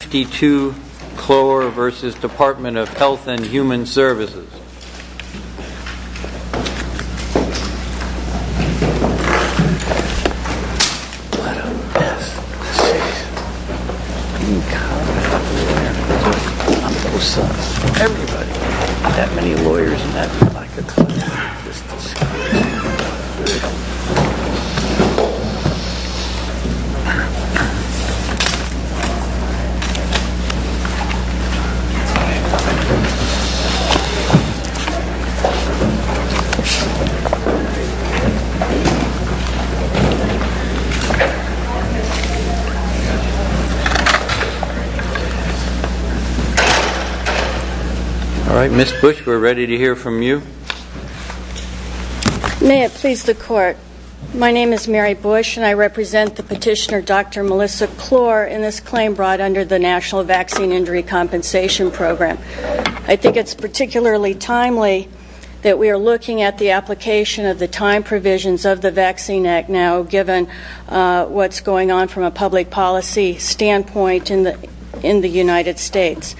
52 Cloer v. Department of Health and Human Services Ms. Bush, we are ready to hear from you. May it please the Court, my name is Mary Bush and I represent the petitioner Dr. Melissa Cloer in this claim brought under the National Vaccine Injury Compensation Program. I think it's particularly timely that we are looking at the application of the time provisions of the Vaccine Act now given what's going on from a public policy standpoint in the United States.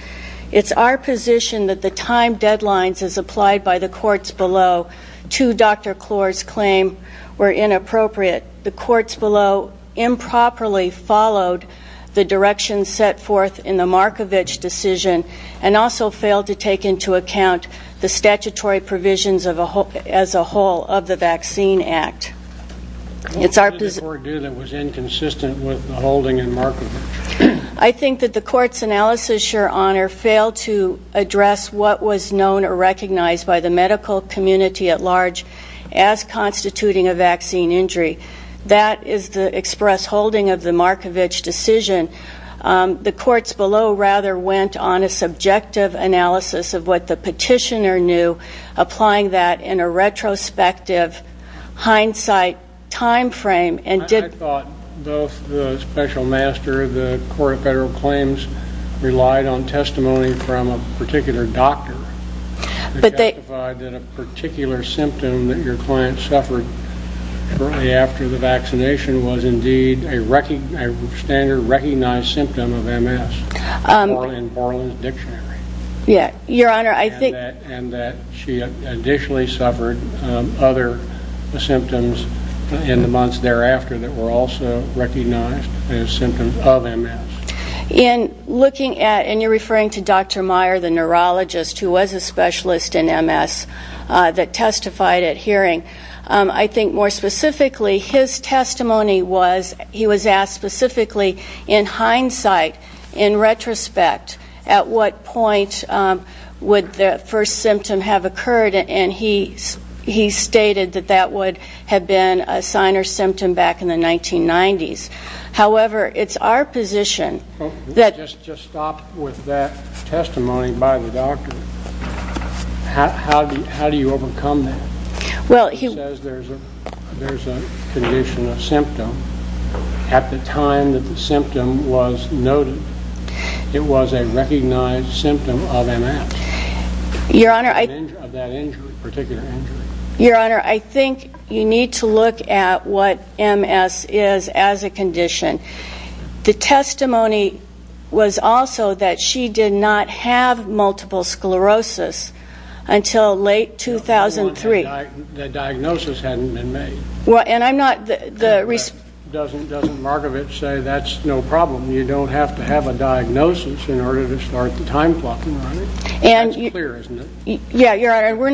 It's our position that the time deadlines as applied by the courts below to Dr. Cloer's claim were inappropriate. The courts below improperly followed the direction set forth in the Markovich decision and also failed to take into account the statutory provisions as a whole of the Vaccine Act. I think that the Court's analysis, Your Honor, failed to address what was known or recognized by the medical community at large as constituting a vaccine injury. That is the express holding of the Markovich decision. The courts below rather went on a subjective analysis of what the petitioner knew, applying that in a retrospective hindsight time frame. I thought both the Special Master and the Court of Federal Claims relied on testimony from a particular doctor that justified that a particular symptom that your client suffered shortly after the vaccination was indeed a standard recognized symptom of MS in Borland's dictionary. And that she additionally suffered other symptoms in the months thereafter that Dr. Meyer, the neurologist who was a specialist in MS, that testified at hearing. I think more specifically, his testimony was, he was asked specifically in hindsight, in retrospect, at what point would the first symptom have occurred, and he stated that that would have been a sign or symptom back in the 1990s. However, it's our position that Just stop with that testimony by the doctor. How do you overcome that? He says there's a condition, a symptom. At the time that the symptom was noted, it was a recognized symptom of MS. Your Honor, I think you need to look at what MS is as a condition. The testimony was also that she did not have multiple sclerosis until late 2003. The diagnosis hadn't been made. And I'm not the Doesn't Markovitch say that's no problem? You don't have to have a diagnosis in order to start the time clock, am I right? That's clear, isn't it? Yeah, Your Honor. We're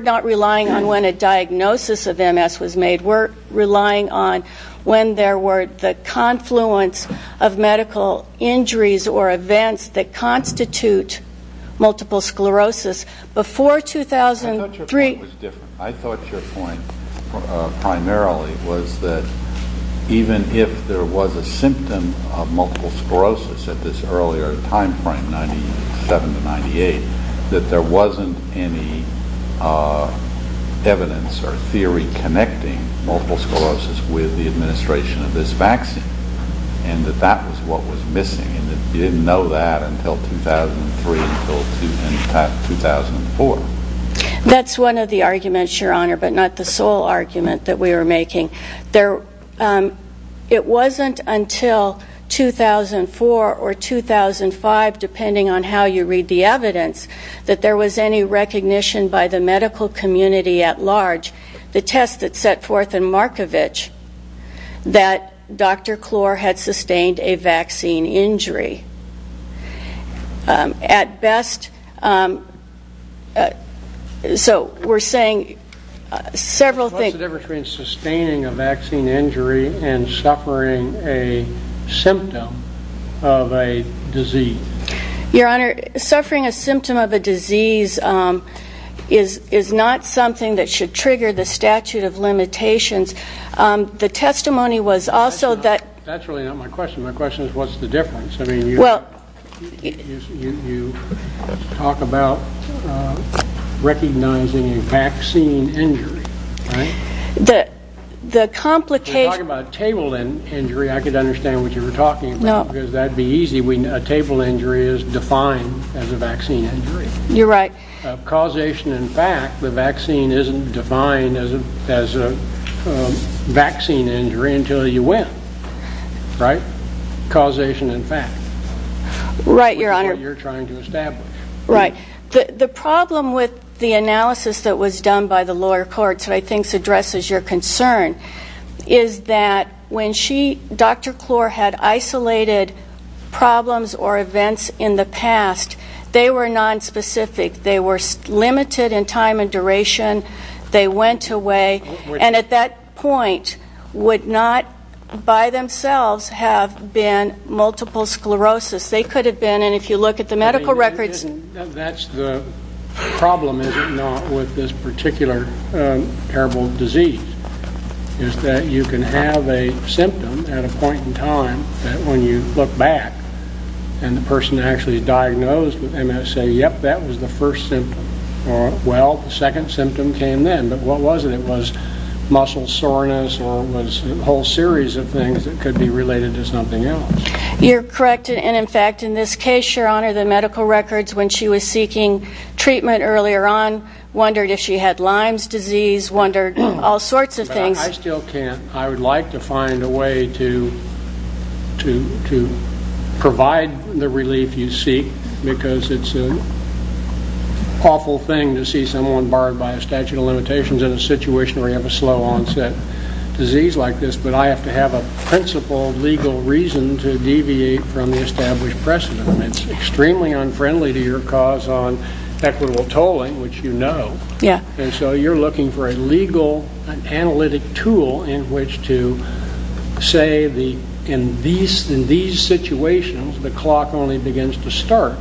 not relying on when a diagnosis of MS was made. We're relying on when there were the confluence of medical injuries or events that constitute multiple sclerosis. Before 2003 I thought your point was different. I thought your point primarily was that even if there was a symptom of multiple sclerosis at this earlier time frame, 97 to 98, that there wasn't any evidence or theory connecting multiple sclerosis with the administration of this vaccine and that that was what was missing. You didn't know that until 2003, until 2004. That's one of the arguments, Your Honor, but not the sole argument that we were making. It wasn't until 2004 or 2005, depending on how you read the evidence, that there was any recognition by the medical community at large, the test that set forth in Markovitch, that Dr. Klor had sustained a vaccine injury. At best, so we're saying several What's the difference between sustaining a vaccine injury and suffering a symptom of a disease? Your Honor, suffering a symptom of a disease is not something that should trigger the statute of limitations. The testimony was also That's really not my question. My question is what's the difference? I mean, you talk about recognizing a vaccine injury, right? The complication You're talking about a table injury. I could understand what you were talking about because that would be easy. A table injury is defined as a vaccine injury. You're right. Causation and fact, the vaccine isn't defined as a vaccine injury until you win, right? Causation and fact. Right, Your Honor. Which is what you're trying to establish. The problem with the analysis that was done by the lower courts, and I think addresses your concern, is that when she, Dr. Klor, had isolated problems or events in the past, they were nonspecific. They were limited in time and duration. They went away, and at that point would not by themselves have been multiple sclerosis. They could have been, and if you look at the medical records That's the problem, is it not, with this particular terrible disease, is that you can have a symptom at a point in time that when you look back and the person actually is diagnosed, they might say, yep, that was the first symptom. Or, well, the second symptom came then, but what was it? It was muscle soreness or it was a whole series of things that could be related to something else. You're correct, and in fact, in this case, Your Honor, the medical records, when she was seeking treatment earlier on, wondered if she had Lyme's disease, wondered all sorts of things. But I still can't. I would like to find a way to provide the relief you seek, because it's an awful thing to see someone barred by a statute of limitations in a situation where you have a slow onset disease like this, but I have to have a principal legal reason to deviate from the established precedent. It's extremely unfriendly to your cause on equitable tolling, which you know, and so you're looking for a legal analytic tool in which to say, in these situations, the clock only begins to start,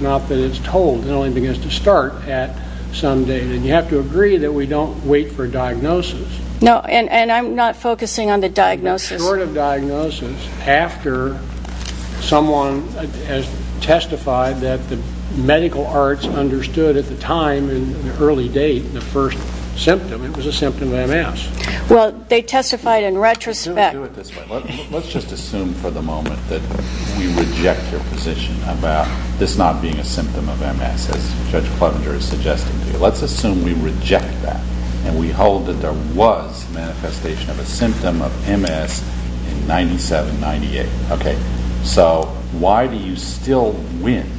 not that it's tolled. It only begins to start at some date, and you have to agree that we don't wait for a diagnosis. No, and I'm not focusing on the diagnosis. In the short of diagnosis, after someone has testified that the medical arts understood at the time, in the early date, the first symptom, it was a symptom of MS. Well, they testified in retrospect. Let's do it this way. Let's just assume for the moment that we reject your position about this not being a symptom of MS, as Judge Clevenger is suggesting to you. Let's assume we reject that, and we hold that there was manifestation of a symptom of MS in 97-98, okay? So why do you still win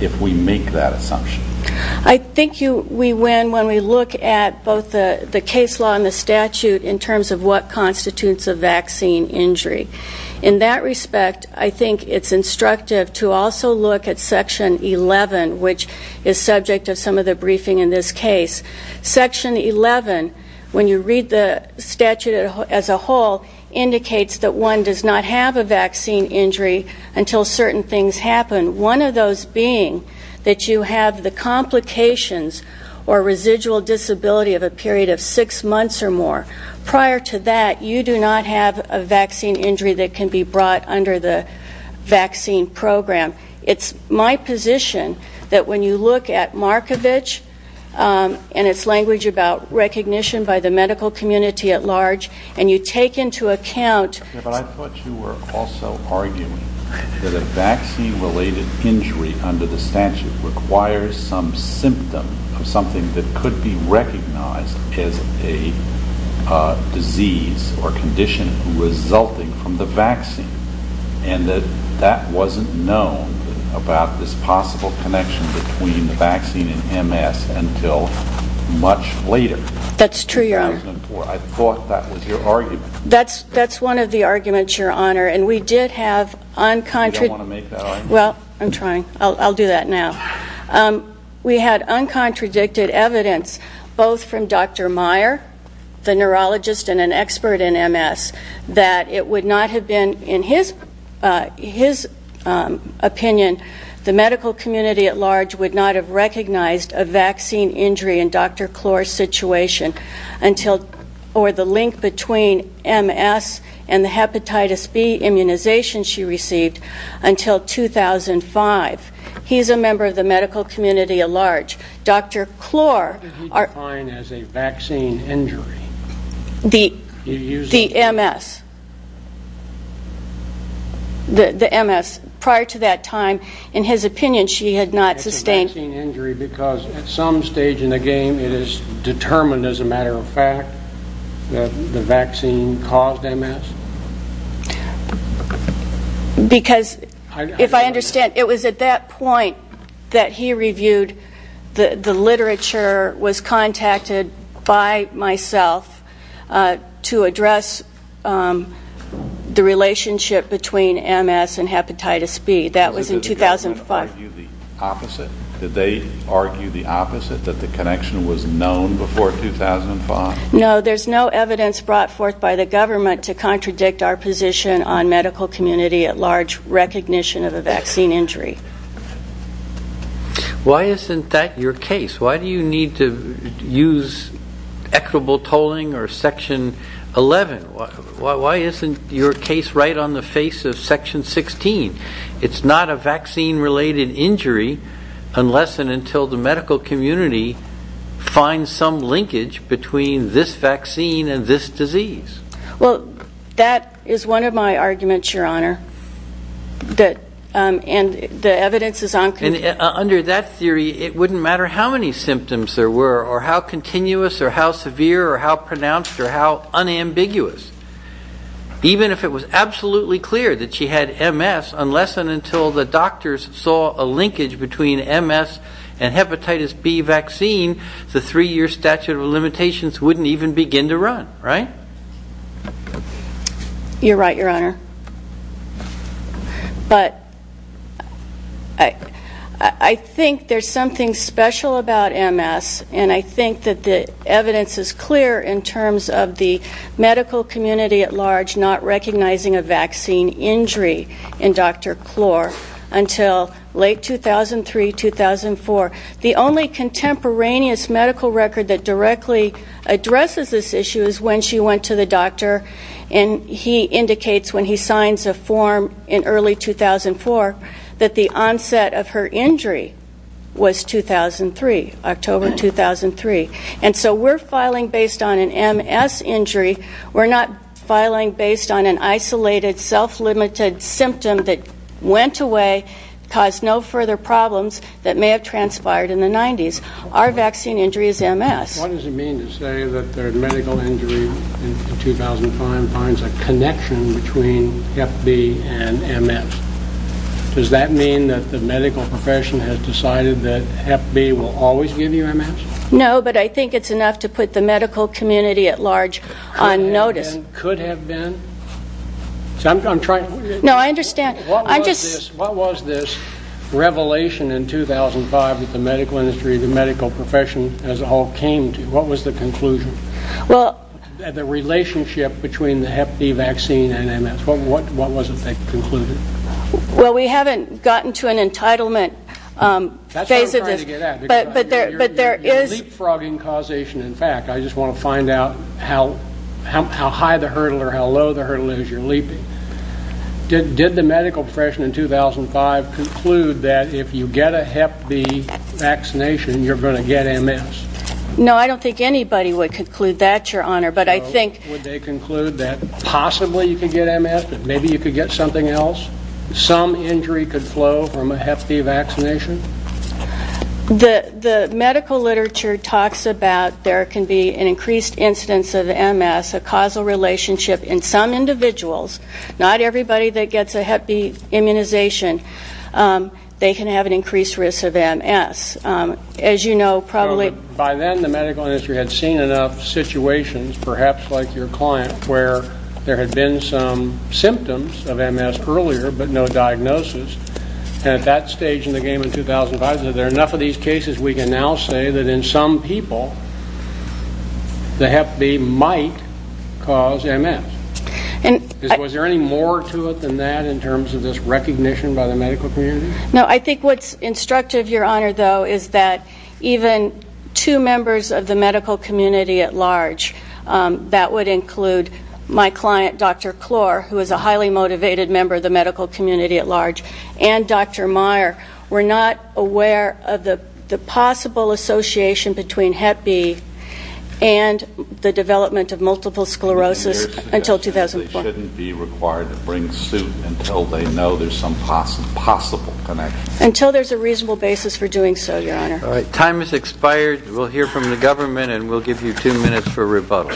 if we make that assumption? I think we win when we look at both the case law and the statute in terms of what constitutes a vaccine injury. In that respect, I think it's instructive to also look at Section 11, which is subject of some of the briefing in this case. Section 11, when you read the statute as a whole, indicates that one does not have a vaccine injury until certain things happen, one of those being that you have the complications or residual disability of a period of six months. You do not have a vaccine injury that can be brought under the vaccine program. It's my position that when you look at Markovich and its language about recognition by the medical community at large, and you take into account... Yeah, but I thought you were also arguing that a vaccine-related injury under the statute requires some symptom of something that could be recognized as a disease or condition that is resulting from the vaccine, and that that wasn't known about this possible connection between the vaccine and MS until much later. That's true, Your Honor. In 2004. I thought that was your argument. That's one of the arguments, Your Honor, and we did have uncontradicted... I don't want to make that argument. Well, I'm trying. I'll do that now. We had uncontradicted evidence, both from Dr. Meyer, the neurologist and an expert in MS, that it would not have been, in his opinion, the medical community at large would not have recognized a vaccine injury in Dr. Klor's situation or the link between MS and the hepatitis B immunization she received until 2005. He's a member of the medical community at large. Dr. Klor... What are you defining as a vaccine injury? The MS. The MS. Prior to that time, in his opinion, she had not sustained... It's a vaccine injury because at some stage in the game, it is determined as a matter of fact that the vaccine caused MS? Because, if I understand, it was at that point that he reviewed the literature, was contacted by myself to address the relationship between MS and hepatitis B. That was in 2005. Did the government argue the opposite? Did they argue the opposite, that the connection was known before 2005? No. There's no evidence brought forth by the government to contradict our position on medical community at large recognition of a vaccine injury. Why isn't that your case? Why do you need to use equitable tolling or Section 11? Why isn't your case right on the face of Section 16? It's not a vaccine-related injury unless and until the medical community finds some linkage between this vaccine and this disease. That is one of my arguments, Your Honor. The evidence is on... Under that theory, it wouldn't matter how many symptoms there were or how continuous or how severe or how pronounced or how unambiguous. Even if it was absolutely clear that she had an MS and hepatitis B vaccine, the three-year statute of limitations wouldn't even begin to run, right? You're right, Your Honor. But I think there's something special about MS, and I think that the evidence is clear in terms of the medical community at large not recognizing a vaccine injury in Dr. Klor until late 2003, 2004. The only contemporaneous medical record that directly addresses this issue is when she went to the doctor, and he indicates when he signs a form in early 2004 that the onset of her injury was 2003, October 2003. And so we're filing based on an MS injury. We're not filing based on an isolated, self-limited symptom that went away, caused no further problems that may have transpired in the 90s. Our vaccine injury is MS. What does it mean to say that their medical injury in 2005 finds a connection between Hep B and MS? Does that mean that the medical profession has decided that Hep B will always give you MS? No, but I think it's enough to put the medical community at large on notice. Could have been? No, I understand. What was this revelation in 2005 that the medical industry, the medical profession as a whole came to? What was the conclusion? The relationship between the Hep B vaccine and MS, what was it that concluded? Well, we haven't gotten to an entitlement phase of this. That's what I'm trying to get at. But there is You're leapfrogging causation, in fact. I just want to find out how high the hurdle or how low the hurdle is you're leaping. Did the medical profession in 2005 conclude that if you get a Hep B vaccination, you're going to get MS? No, I don't think anybody would conclude that, Your Honor, but I think Would they conclude that possibly you could get MS, that maybe you could get something else, some injury could flow from a Hep B vaccination? The medical literature talks about there can be an increased incidence of MS, a causal relationship in some individuals. Not everybody that gets a Hep B immunization, they can have an increased risk of MS. As you know, probably By then, the medical industry had seen enough situations, perhaps like your client, where there had been some symptoms of MS earlier, but no diagnosis, and at that stage in the game in 2005, there are enough of these cases we can now say that in some people, the Hep B might cause MS. Was there any more to it than that in terms of this recognition by the medical community? No, I think what's instructive, Your Honor, though, is that even two members of the medical community at large, that would include my client, Dr. Klor, who is a highly motivated member of the medical community at large, and Dr. Meyer, were not aware of the possible association between Hep B and the development of multiple sclerosis until 2005. They shouldn't be required to bring suit until they know there's some possible connection? Until there's a reasonable basis for doing so, Your Honor. All right. Time has expired. We'll hear from the government, and we'll give you two minutes for rebuttal.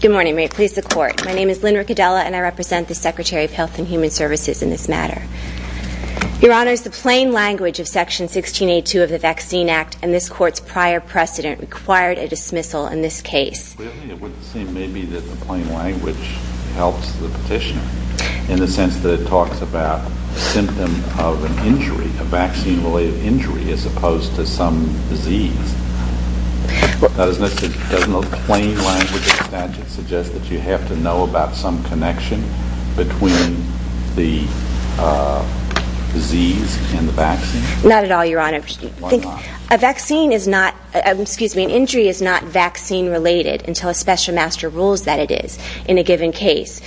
Good morning. May it please the Court. My name is Lynn Riccadella, and I represent the Secretary of Health and Human Services in this matter. Your Honor, it's the plain language of Section 1682 of the Vaccine Act and this Court's prior precedent required a dismissal in this case. Clearly, it would seem maybe that the plain language helps the petition in the sense that it talks about a symptom of an injury, a vaccine-related injury, as opposed to some disease. But doesn't the plain language of the statute suggest that you have to know about some connection between the disease and the vaccine? Not at all, Your Honor. Why not? A vaccine is not, excuse me, an injury is not vaccine-related until a special master rules that it is in a given case.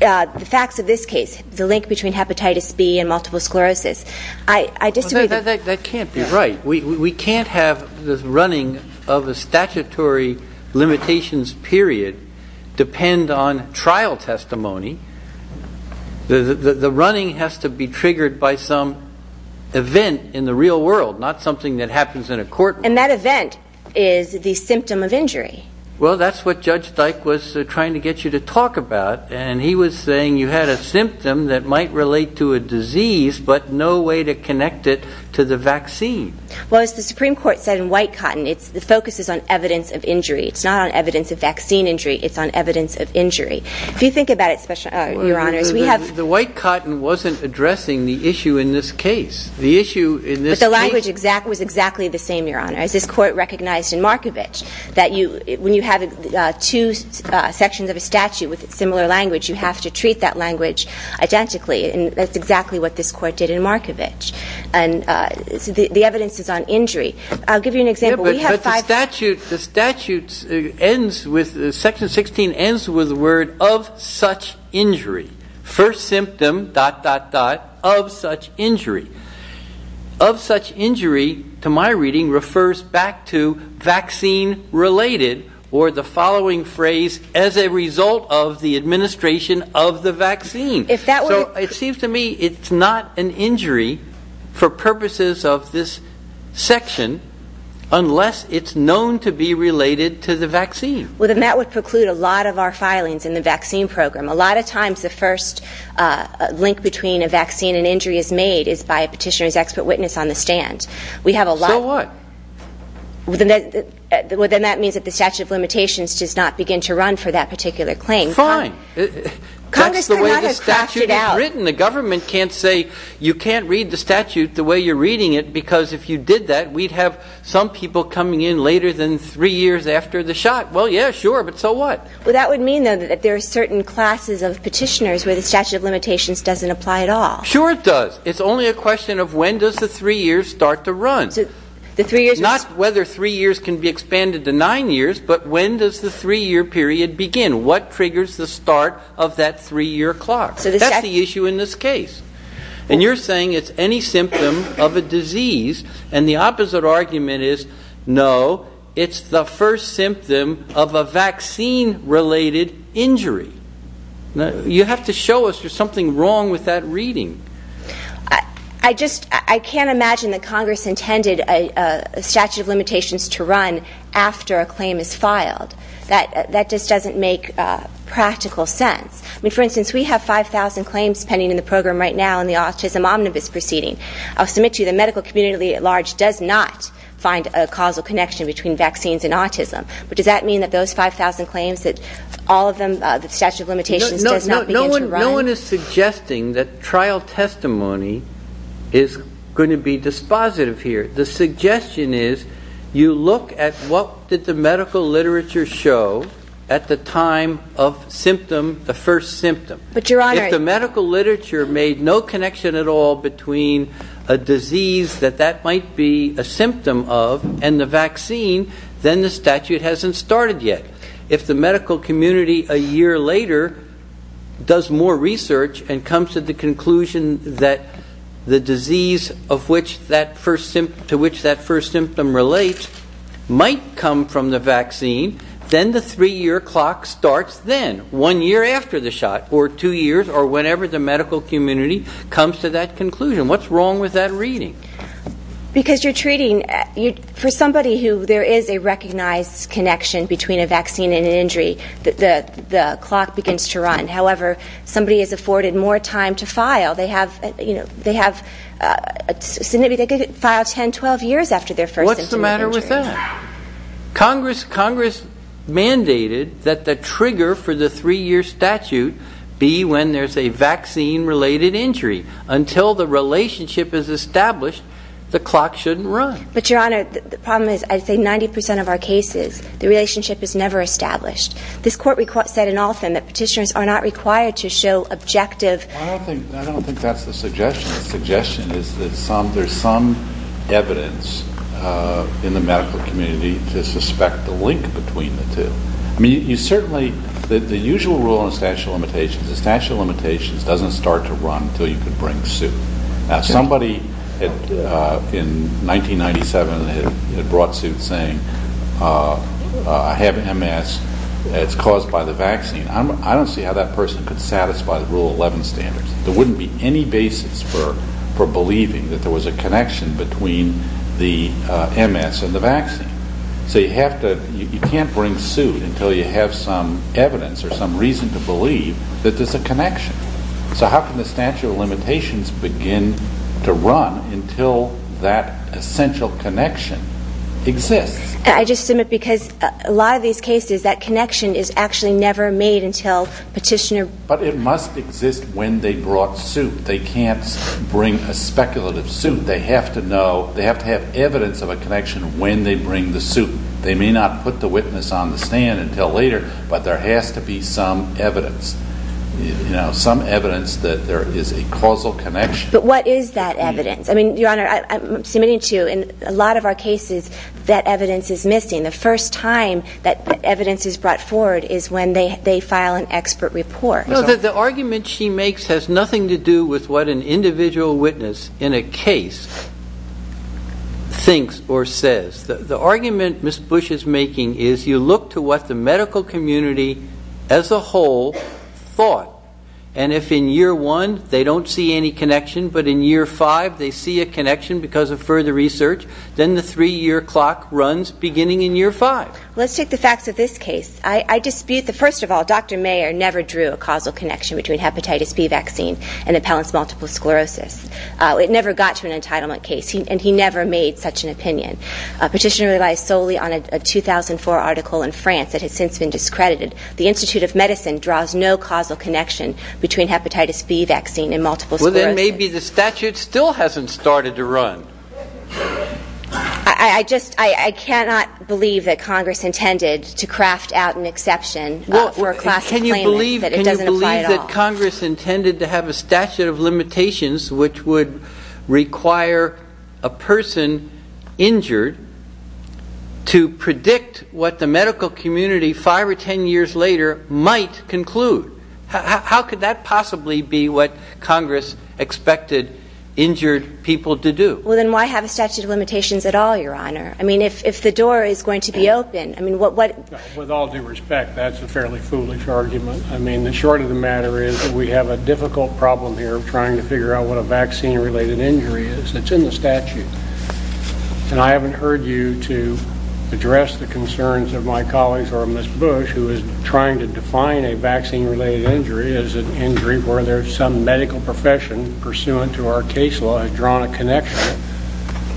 The facts of this case, the link between hepatitis B and multiple sclerosis, I disagree. That can't be right. We can't have the running of a statutory limitations period depend on trial testimony. The running has to be triggered by some event in the real world, not something that happens in a courtroom. And that event is the symptom of injury. Well, that's what Judge Dyke was trying to get you to talk about. And he was saying you had a symptom that might relate to a disease, but no way to connect it to the vaccine. Well, as the Supreme Court said in White Cotton, the focus is on evidence of injury. It's not on evidence of vaccine injury. It's on evidence of injury. If you think about it, Your Honors, we have The White Cotton wasn't addressing the issue in this case. But the language was exactly the same, Your Honor. As this Court recognized in Markovich, that when you have two sections of a statute with similar language, you have to treat that language identically. And that's exactly what this Court did in Markovich. And the evidence is on injury. I'll give you an example. The statute ends with Section 16 ends with the word of such injury. First symptom, dot, dot, dot, of such injury. Of such injury, to my reading, refers back to vaccine-related or the following phrase, as a result of the administration of the vaccine. So it seems to me it's not an injury for purposes of this section, unless it's known to be related to the vaccine. Well, then that would preclude a lot of our filings in the vaccine program. A lot of times the first link between a vaccine and injury is made is by a petitioner's expert witness on the stand. So what? Well, then that means that the statute of limitations does not begin to run for that particular claim. Fine. Congress cannot have cracked it out. That's the way the statute is written. The government can't say you can't read the statute the way you're reading it because if you did that, we'd have some people coming in later than three years after the shot. Well, yeah, sure. But so what? Well, that would mean, though, that there are certain classes of petitioners where the statute of limitations doesn't apply at all. Sure it does. It's only a question of when does the three years start to run. Not whether three years can be expanded to nine years, but when does the three-year period begin? What triggers the start of that three-year clock? That's the issue in this case. And you're saying it's any symptom of a disease, and the opposite argument is no, it's the first symptom of a vaccine-related injury. You have to show us there's something wrong with that reading. I just can't imagine that Congress intended a statute of limitations to run after a claim is filed. That just doesn't make practical sense. I mean, for instance, we have 5,000 claims pending in the program right now in the autism omnibus proceeding. I'll submit to you the medical community at large does not find a causal connection between vaccines and autism. But does that mean that those 5,000 claims, that all of them, the statute of limitations does not begin to run? No one is suggesting that trial testimony is going to be dispositive here. The suggestion is you look at what did the medical literature show at the time of symptom, the first symptom. If the medical literature made no connection at all between a disease that that might be a symptom of and the vaccine, then the statute hasn't started yet. If the medical community a year later does more research and comes to the conclusion that the disease to which that first symptom relates might come from the vaccine, then the three-year clock starts then, one year after the shot or two years or whenever the medical community comes to that conclusion. What's wrong with that reading? Because you're treating... For somebody who there is a recognized connection between a vaccine and an injury, the clock begins to run. However, somebody is afforded more time to file. They could file 10, 12 years after their first symptom of injury. What's the matter with that? Congress mandated that the trigger for the three-year statute be when there's a vaccine-related injury. Until the relationship is established, the clock shouldn't run. But, Your Honor, the problem is I'd say 90% of our cases, the relationship is never established. This court said in all of them that petitioners are not required to show objective... I don't think that's the suggestion. The suggestion is that there's some evidence in the medical community to suspect the link between the two. I mean, you certainly... The usual rule in the statute of limitations is the statute of limitations doesn't start to run until you can bring suit. Now, somebody in 1997 had brought suit saying, uh, I have MS. It's caused by the vaccine. I don't see how that person could satisfy Rule 11 standards. There wouldn't be any basis for believing that there was a connection between the MS and the vaccine. So you have to... You can't bring suit until you have some evidence or some reason to believe that there's a connection. So how can the statute of limitations begin to run until that essential connection exists? I just submit because a lot of these cases, that connection is actually never made until petitioner... But it must exist when they brought suit. They can't bring a speculative suit. They have to know... They have to have evidence of a connection when they bring the suit. They may not put the witness on the stand until later, but there has to be some evidence. You know, some evidence that there is a causal connection. But what is that evidence? Your Honor, I'm submitting to you, in a lot of our cases, that evidence is missing. The first time that evidence is brought forward is when they file an expert report. The argument she makes has nothing to do with what an individual witness in a case thinks or says. The argument Ms. Bush is making is, you look to what the medical community as a whole thought, and if in year one they don't see any connection, but in year five they see a connection because of further research, then the three-year clock runs beginning in year five. Let's take the facts of this case. I dispute that, first of all, Dr. Mayer never drew a causal connection between hepatitis B vaccine and appellant's multiple sclerosis. It never got to an entitlement case, and he never made such an opinion. Petitioner relies solely on a 2004 article in France that has since been discredited. The Institute of Medicine draws no causal connection between hepatitis B vaccine and multiple sclerosis. Then maybe the statute still hasn't started to run. I cannot believe that Congress intended to craft out an exception or a classic claim that it doesn't apply at all. Can you believe that Congress intended to have a statute of limitations which would require a person injured to predict what the medical community five or ten years later might conclude? How could that possibly be what Congress expected injured people to do? Well, then why have a statute of limitations at all, Your Honor? I mean, if the door is going to be open... With all due respect, that's a fairly foolish argument. I mean, the short of the matter is we have a difficult problem here of trying to figure out what a vaccine-related injury is. It's in the statute. And I haven't heard you to address the concerns of my colleagues or of Ms. Bush, who is trying to define a vaccine-related injury as an injury where some medical profession pursuant to our case law has drawn a connection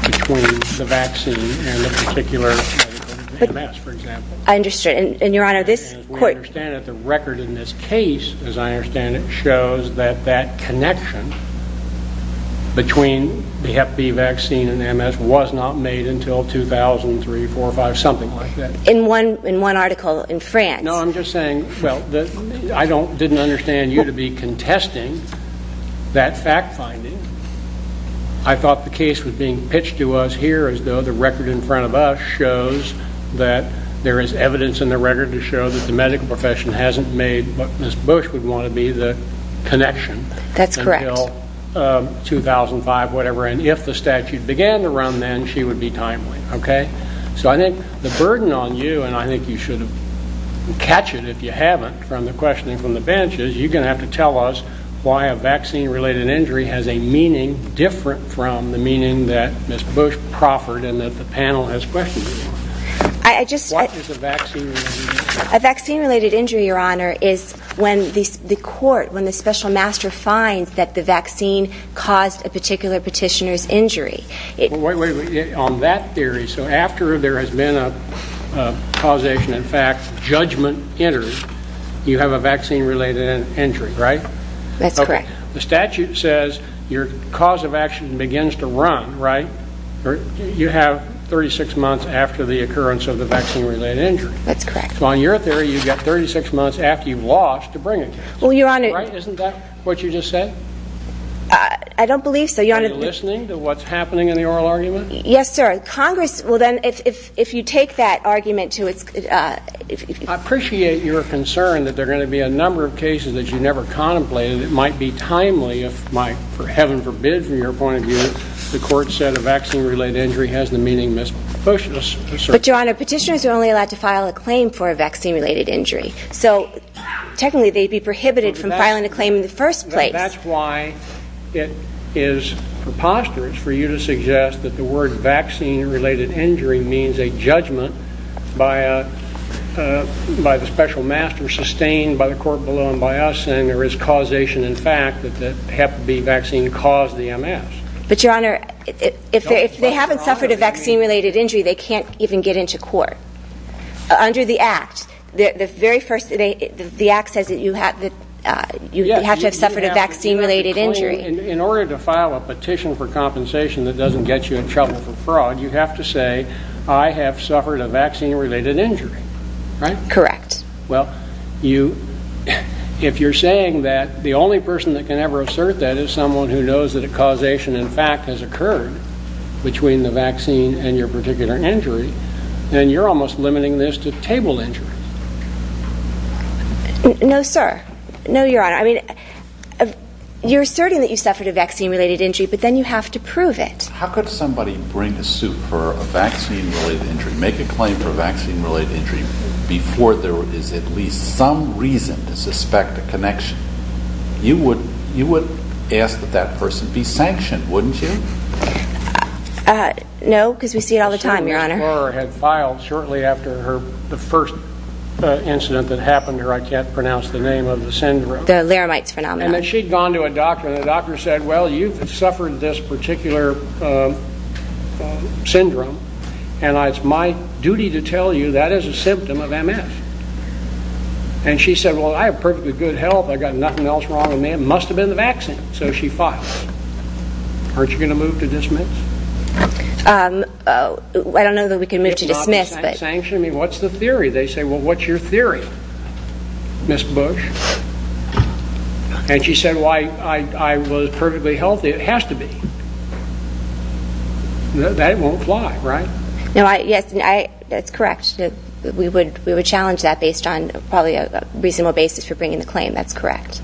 between the vaccine and the particular medical... MS, for example. I understand. And, Your Honor, this court... As I understand it, the record in this case shows that that connection between the hep B vaccine and MS was not made until 2003, 4, 5, something like that. In one article in France. No, I'm just saying, well, I didn't understand you to be contesting that fact-finding. I thought the case was being pitched to us here as though the record in front of us shows that there is evidence in the record to show that the medical profession hasn't made what Ms. Bush would want to be, the connection... That's correct. ...until 2005, whatever, and if the statute began to run then, maybe she would be timely, okay? So I think the burden on you, and I think you should catch it if you haven't from the questioning from the bench, is you're going to have to tell us why a vaccine-related injury has a meaning different from the meaning that Ms. Bush proffered and that the panel has questioned. I just... A vaccine-related injury, Your Honor, is when the court, when the special master finds that the vaccine caused a particular petitioner's injury. Wait, wait, wait. On that theory, so after there has been a causation, in fact, judgment entered, you have a vaccine-related injury, right? That's correct. The statute says your cause of action begins to run, right? You have 36 months after the occurrence of the vaccine-related injury. That's correct. So on your theory, you've got 36 months after you've lost to bring a case. Well, Your Honor... Isn't that what you just said? I don't believe so. Are you listening to what's happening in the oral argument? Yes, sir. Congress... Well, then, if you take that argument to its... I appreciate your concern that there are going to be a number of cases that you never contemplated. It might be timely if, for heaven forbid, from your point of view, the court said a vaccine-related injury has the meaning Ms. Bush asserted. But, Your Honor, petitioners are only allowed to file a claim for a vaccine-related injury. So, technically, they'd be prohibited from filing a claim in the first place. That's why it is preposterous for you to suggest that the word vaccine-related injury means a judgment by the special master sustained by the court below and by us saying there is causation in fact that Hep B vaccine caused the MS. But, Your Honor, if they haven't suffered a vaccine-related injury, they can't even get into court. Under the Act, the Act says that you have to have suffered a vaccine-related injury. In order to file a petition for compensation that doesn't get you in trouble for fraud, you have to say, I have suffered a vaccine-related injury. Correct. Well, if you're saying that the only person that can ever assert that is someone who knows that a causation in fact has occurred between the vaccine and your particular injury, then you're almost limiting this to table injuries. No, sir. No, Your Honor. I mean, you're asserting that you suffered a vaccine-related injury, but then you have to prove it. How could somebody bring a suit for a vaccine-related injury, make a claim for a vaccine-related injury, before there is at least some reason to suspect a connection? You would ask that that person be sanctioned, wouldn't you? No, because we see it all the time, Your Honor. She had filed shortly after the first incident that happened to her, I can't pronounce the name of the syndrome. The Laramite's Phenomenon. And she'd gone to a doctor, and the doctor said, well, you've suffered this particular syndrome, and it's my duty to tell you that is a symptom of MS. And she said, well, I have perfectly good health, I've got nothing else wrong with me, it must have been the vaccine. So she filed. Aren't you going to move to dismiss? I don't know that we can move to dismiss. What's the theory? They say, well, what's your theory, Ms. Bush? And she said, I was perfectly healthy. It has to be. That won't fly, right? Yes, that's correct. We would challenge that based on probably a reasonable basis for bringing the claim, that's correct.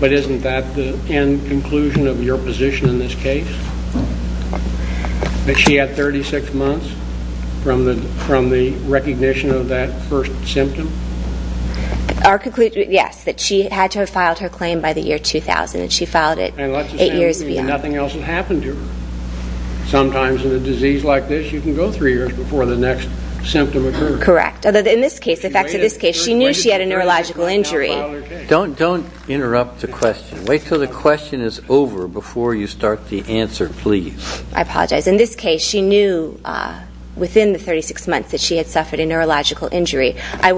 But isn't that the end conclusion of your position in this case? That she had 36 months from the recognition of that first symptom? Yes, that she had to have filed her claim by the year 2000, and she filed it eight years beyond. And let's assume nothing else had happened to her. Sometimes in a disease like this, you can go three years before the next symptom occurs. Correct, although in this case, she knew she had a neurological injury. Don't interrupt the question. Wait until the question is over before you start the answer, please. I apologize. In this case, she knew within the 36 months that she had suffered a neurological injury. I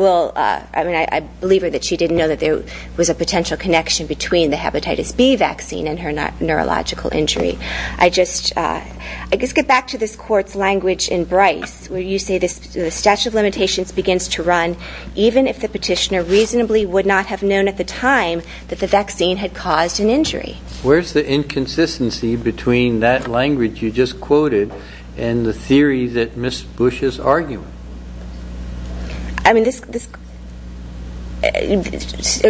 believe her that she didn't know that there was a potential connection between the hepatitis B vaccine and her neurological injury. I just get back to this court's language in Bryce where you say the statute of limitations begins to run even if the petitioner reasonably would not have known at the time that the vaccine had caused an injury. Where's the inconsistency between that language you just quoted and the theory that Ms. Bush is arguing? I mean, this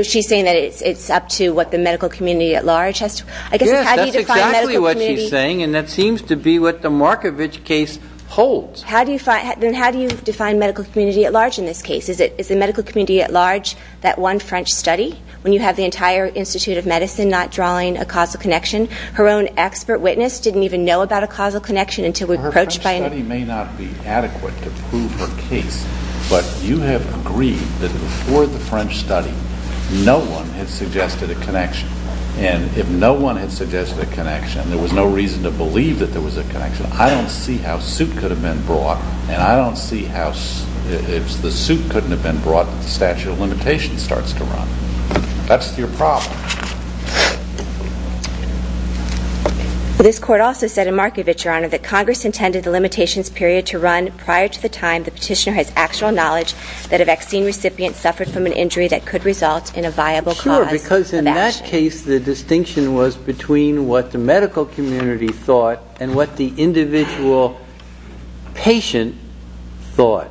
she's saying that it's up to what the medical community at large has to Yes, that's exactly what she's saying and that seems to be what the Markovich case holds. Then how do you define medical community at large in this case? Is the medical community at large that one French study? When you have the entire Institute of Medicine not drawing a causal connection? Her own expert witness didn't even know about a causal connection until we approached by Her French study may not be adequate to prove her case, but you have agreed that before the French study no one had suggested a connection. And if no one had suggested a connection, there was no reason to believe that there was a connection. I don't see how soup could have been brought and I don't see how if the soup couldn't have been brought if the statute of limitations starts to run. That's your problem. This court also said in Markovich, Your Honor, that Congress intended the limitations period to run prior to the time the petitioner has actual knowledge that a vaccine recipient suffered from an injury that could result in a viable cause Sure, because in that case the distinction was between what the medical community thought and what the individual patient thought.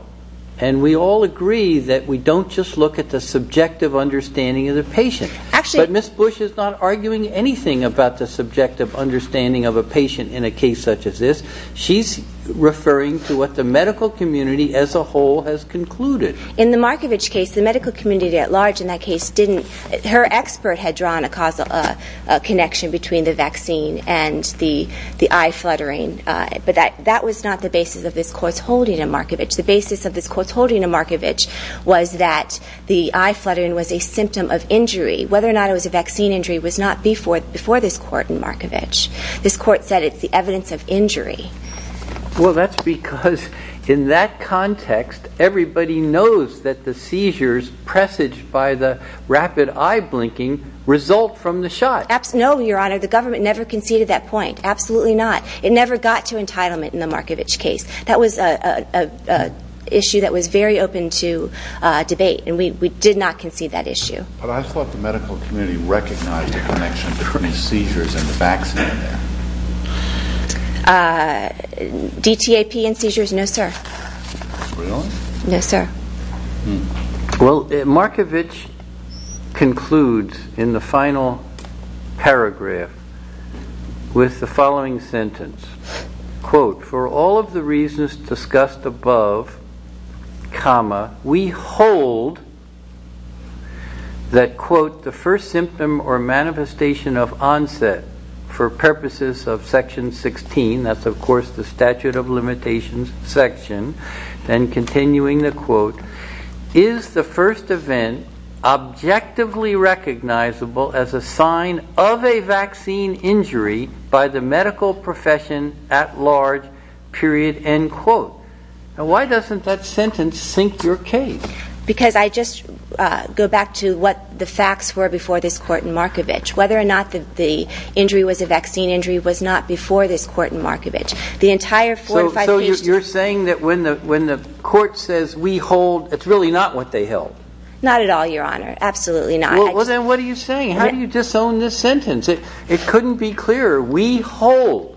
And we all agree that we don't just look at the subjective understanding of the patient. But Ms. Bush is not arguing anything about the subjective understanding of a patient in a case such as this. She's referring to what the medical community as a whole has concluded. In the Markovich case, the medical community at large in that case didn't. Her expert had drawn a causal connection between the vaccine and the eye fluttering. But that was not the basis of this court's holding in Markovich. The basis of this court's holding in Markovich was that the eye fluttering was a symptom of injury. Whether or not it was a vaccine injury was not before this court in Markovich. This court said it's the evidence of injury. Well, that's because in that context everybody knows that the seizures presaged by the rapid eye blinking result from the shot. No, Your Honor. The government never conceded that point. Absolutely not. It never got to entitlement in the Markovich case. That was an issue that was very open to debate. And we did not concede that issue. But I thought the medical community recognized the connection between seizures and the vaccine. DTAP and seizures? No, sir. Really? Yes, sir. Well, Markovich concludes in the final paragraph with the following sentence. Quote, For all of the reasons discussed above comma we hold that quote the first symptom or manifestation of onset for purposes of section 16 that's of course the statute of limitations section and continuing the quote is the first event objectively recognizable as a sign of a vaccine injury by the medical profession at large period end quote. Now why doesn't that sentence sink your case? Because I just go back to what the facts were before this court in Markovich. Whether or not the injury was a vaccine injury was not before this court in Markovich. So you're saying that when the court says we hold, it's really not what they held? Not at all, your honor. Absolutely not. Well then what are you saying? How do you disown this sentence? It couldn't be clearer. We hold.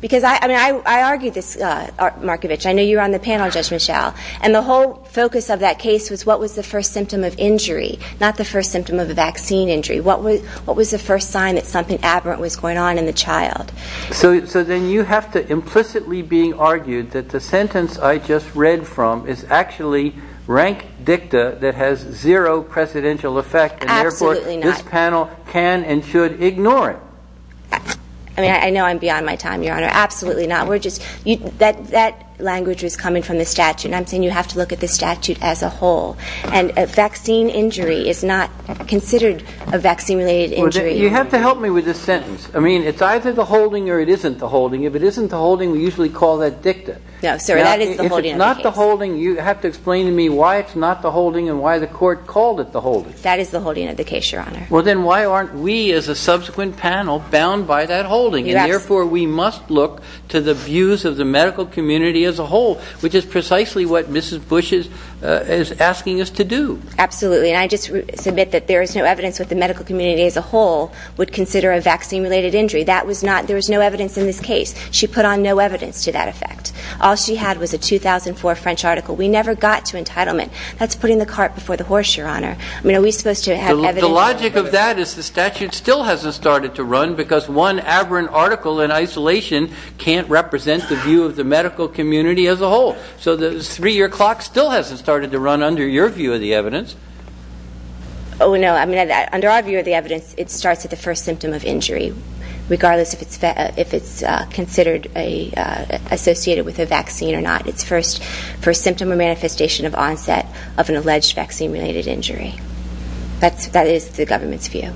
Because I argued this Markovich, I know you were on the panel Judge Michelle, and the whole focus of that case was what was the first symptom of injury, not the first symptom of a vaccine injury. What was the first sign that something aberrant was going on in the child? So then you have to implicitly being argued that the sentence I just read from is actually rank dicta that has zero precedential effect and therefore this panel can and should ignore it. I know I'm beyond my time, your honor. Absolutely not. That language was coming from the statute and I'm saying you have to look at the statute as a whole. And a vaccine injury is not considered a vaccine related injury. You have to help me with this sentence. I mean, it's either the holding or it isn't the holding. If it isn't the holding we usually call that dicta. If it's not the holding, you have to explain to me why it's not the holding and why the court called it the holding. That is the holding of the case, your honor. Well then why aren't we as a subsequent panel bound by that holding? And therefore we must look to the views of the medical community as a whole, which is precisely what Mrs. Bush is asking us to do. Absolutely. And I just submit that there is no evidence that the medical community as a whole would consider a vaccine related injury. That was not, there was no evidence in this case. She put on no evidence to that effect. All she had was a 2004 French article. We never got to entitlement. That's putting the cart before the horse, your honor. I mean, are we supposed to have evidence? The logic of that is the statute still hasn't started to run because one aberrant article in isolation can't represent the view of the medical three-year clock still hasn't started to run under your view of the evidence. Oh no, I mean under our view of the evidence, it starts at the first symptom of injury, regardless if it's considered associated with a vaccine or not. It's first for symptom or manifestation of onset of an alleged vaccine related injury. That is the government's view.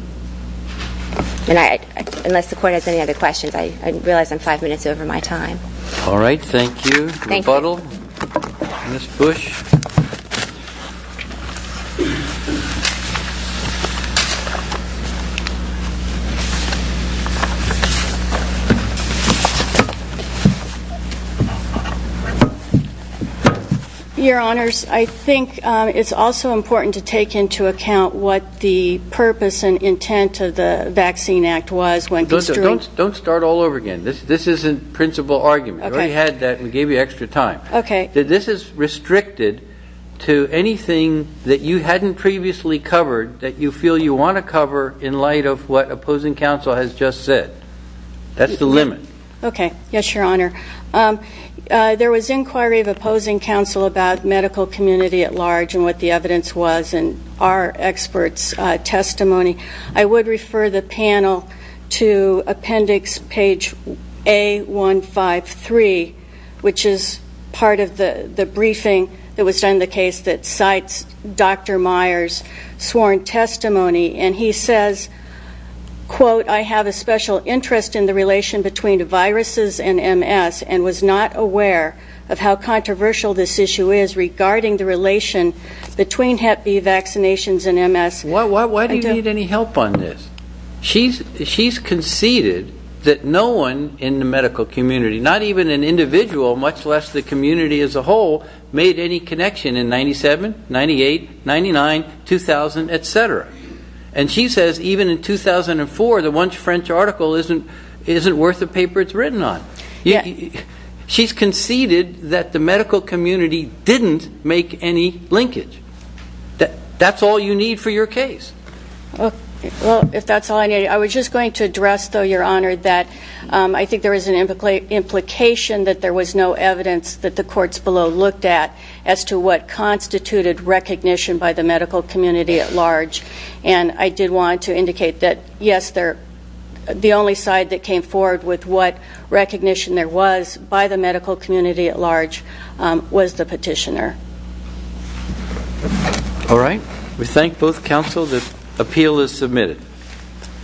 And I, unless the court has any other questions, I realize I'm five minutes over my time. All right, thank you. Rebuttal? Mrs. Bush? Your honors, I think it's also important to take into account what the purpose and intent of the Vaccine Act was when construed. Don't start all over again. This isn't principal argument. We already had that and gave you extra time. And I think it's important to take into account what the purpose and intent of the vaccine was. And if you haven't previously covered that you feel you want to cover in light of what opposing counsel has just said, that's the limit. Okay, yes, your honor. There was inquiry of opposing counsel about medical community at large and what the evidence was in our expert's testimony. I would refer the panel to appendix page A153 which is part of the briefing that was done in the case that cites Dr. Myers' sworn testimony and he says quote, I have a special interest in the relation between viruses and MS and was not aware of how controversial this issue is regarding the relation between hep B vaccinations and MS. Why do you need any help on this? She's conceded that no one in the medical community, not even an individual, much less the community as a whole, made any connection in 97, 98, 99, 2000, etc. And she says even in 2004 the one French article isn't worth the paper it's written on. She's conceded that the medical community didn't make any linkage. That's all you need for your case. Well, if that's all I need. I was just going to address though, your honor, that I think there is an implication that there was no evidence that the courts below looked at as to what constituted recognition by the medical community at large and I did want to indicate that yes, the only side that came forward with what recognition there was by the medical community at large was the petitioner. All right. We thank both counsel. The appeal is submitted.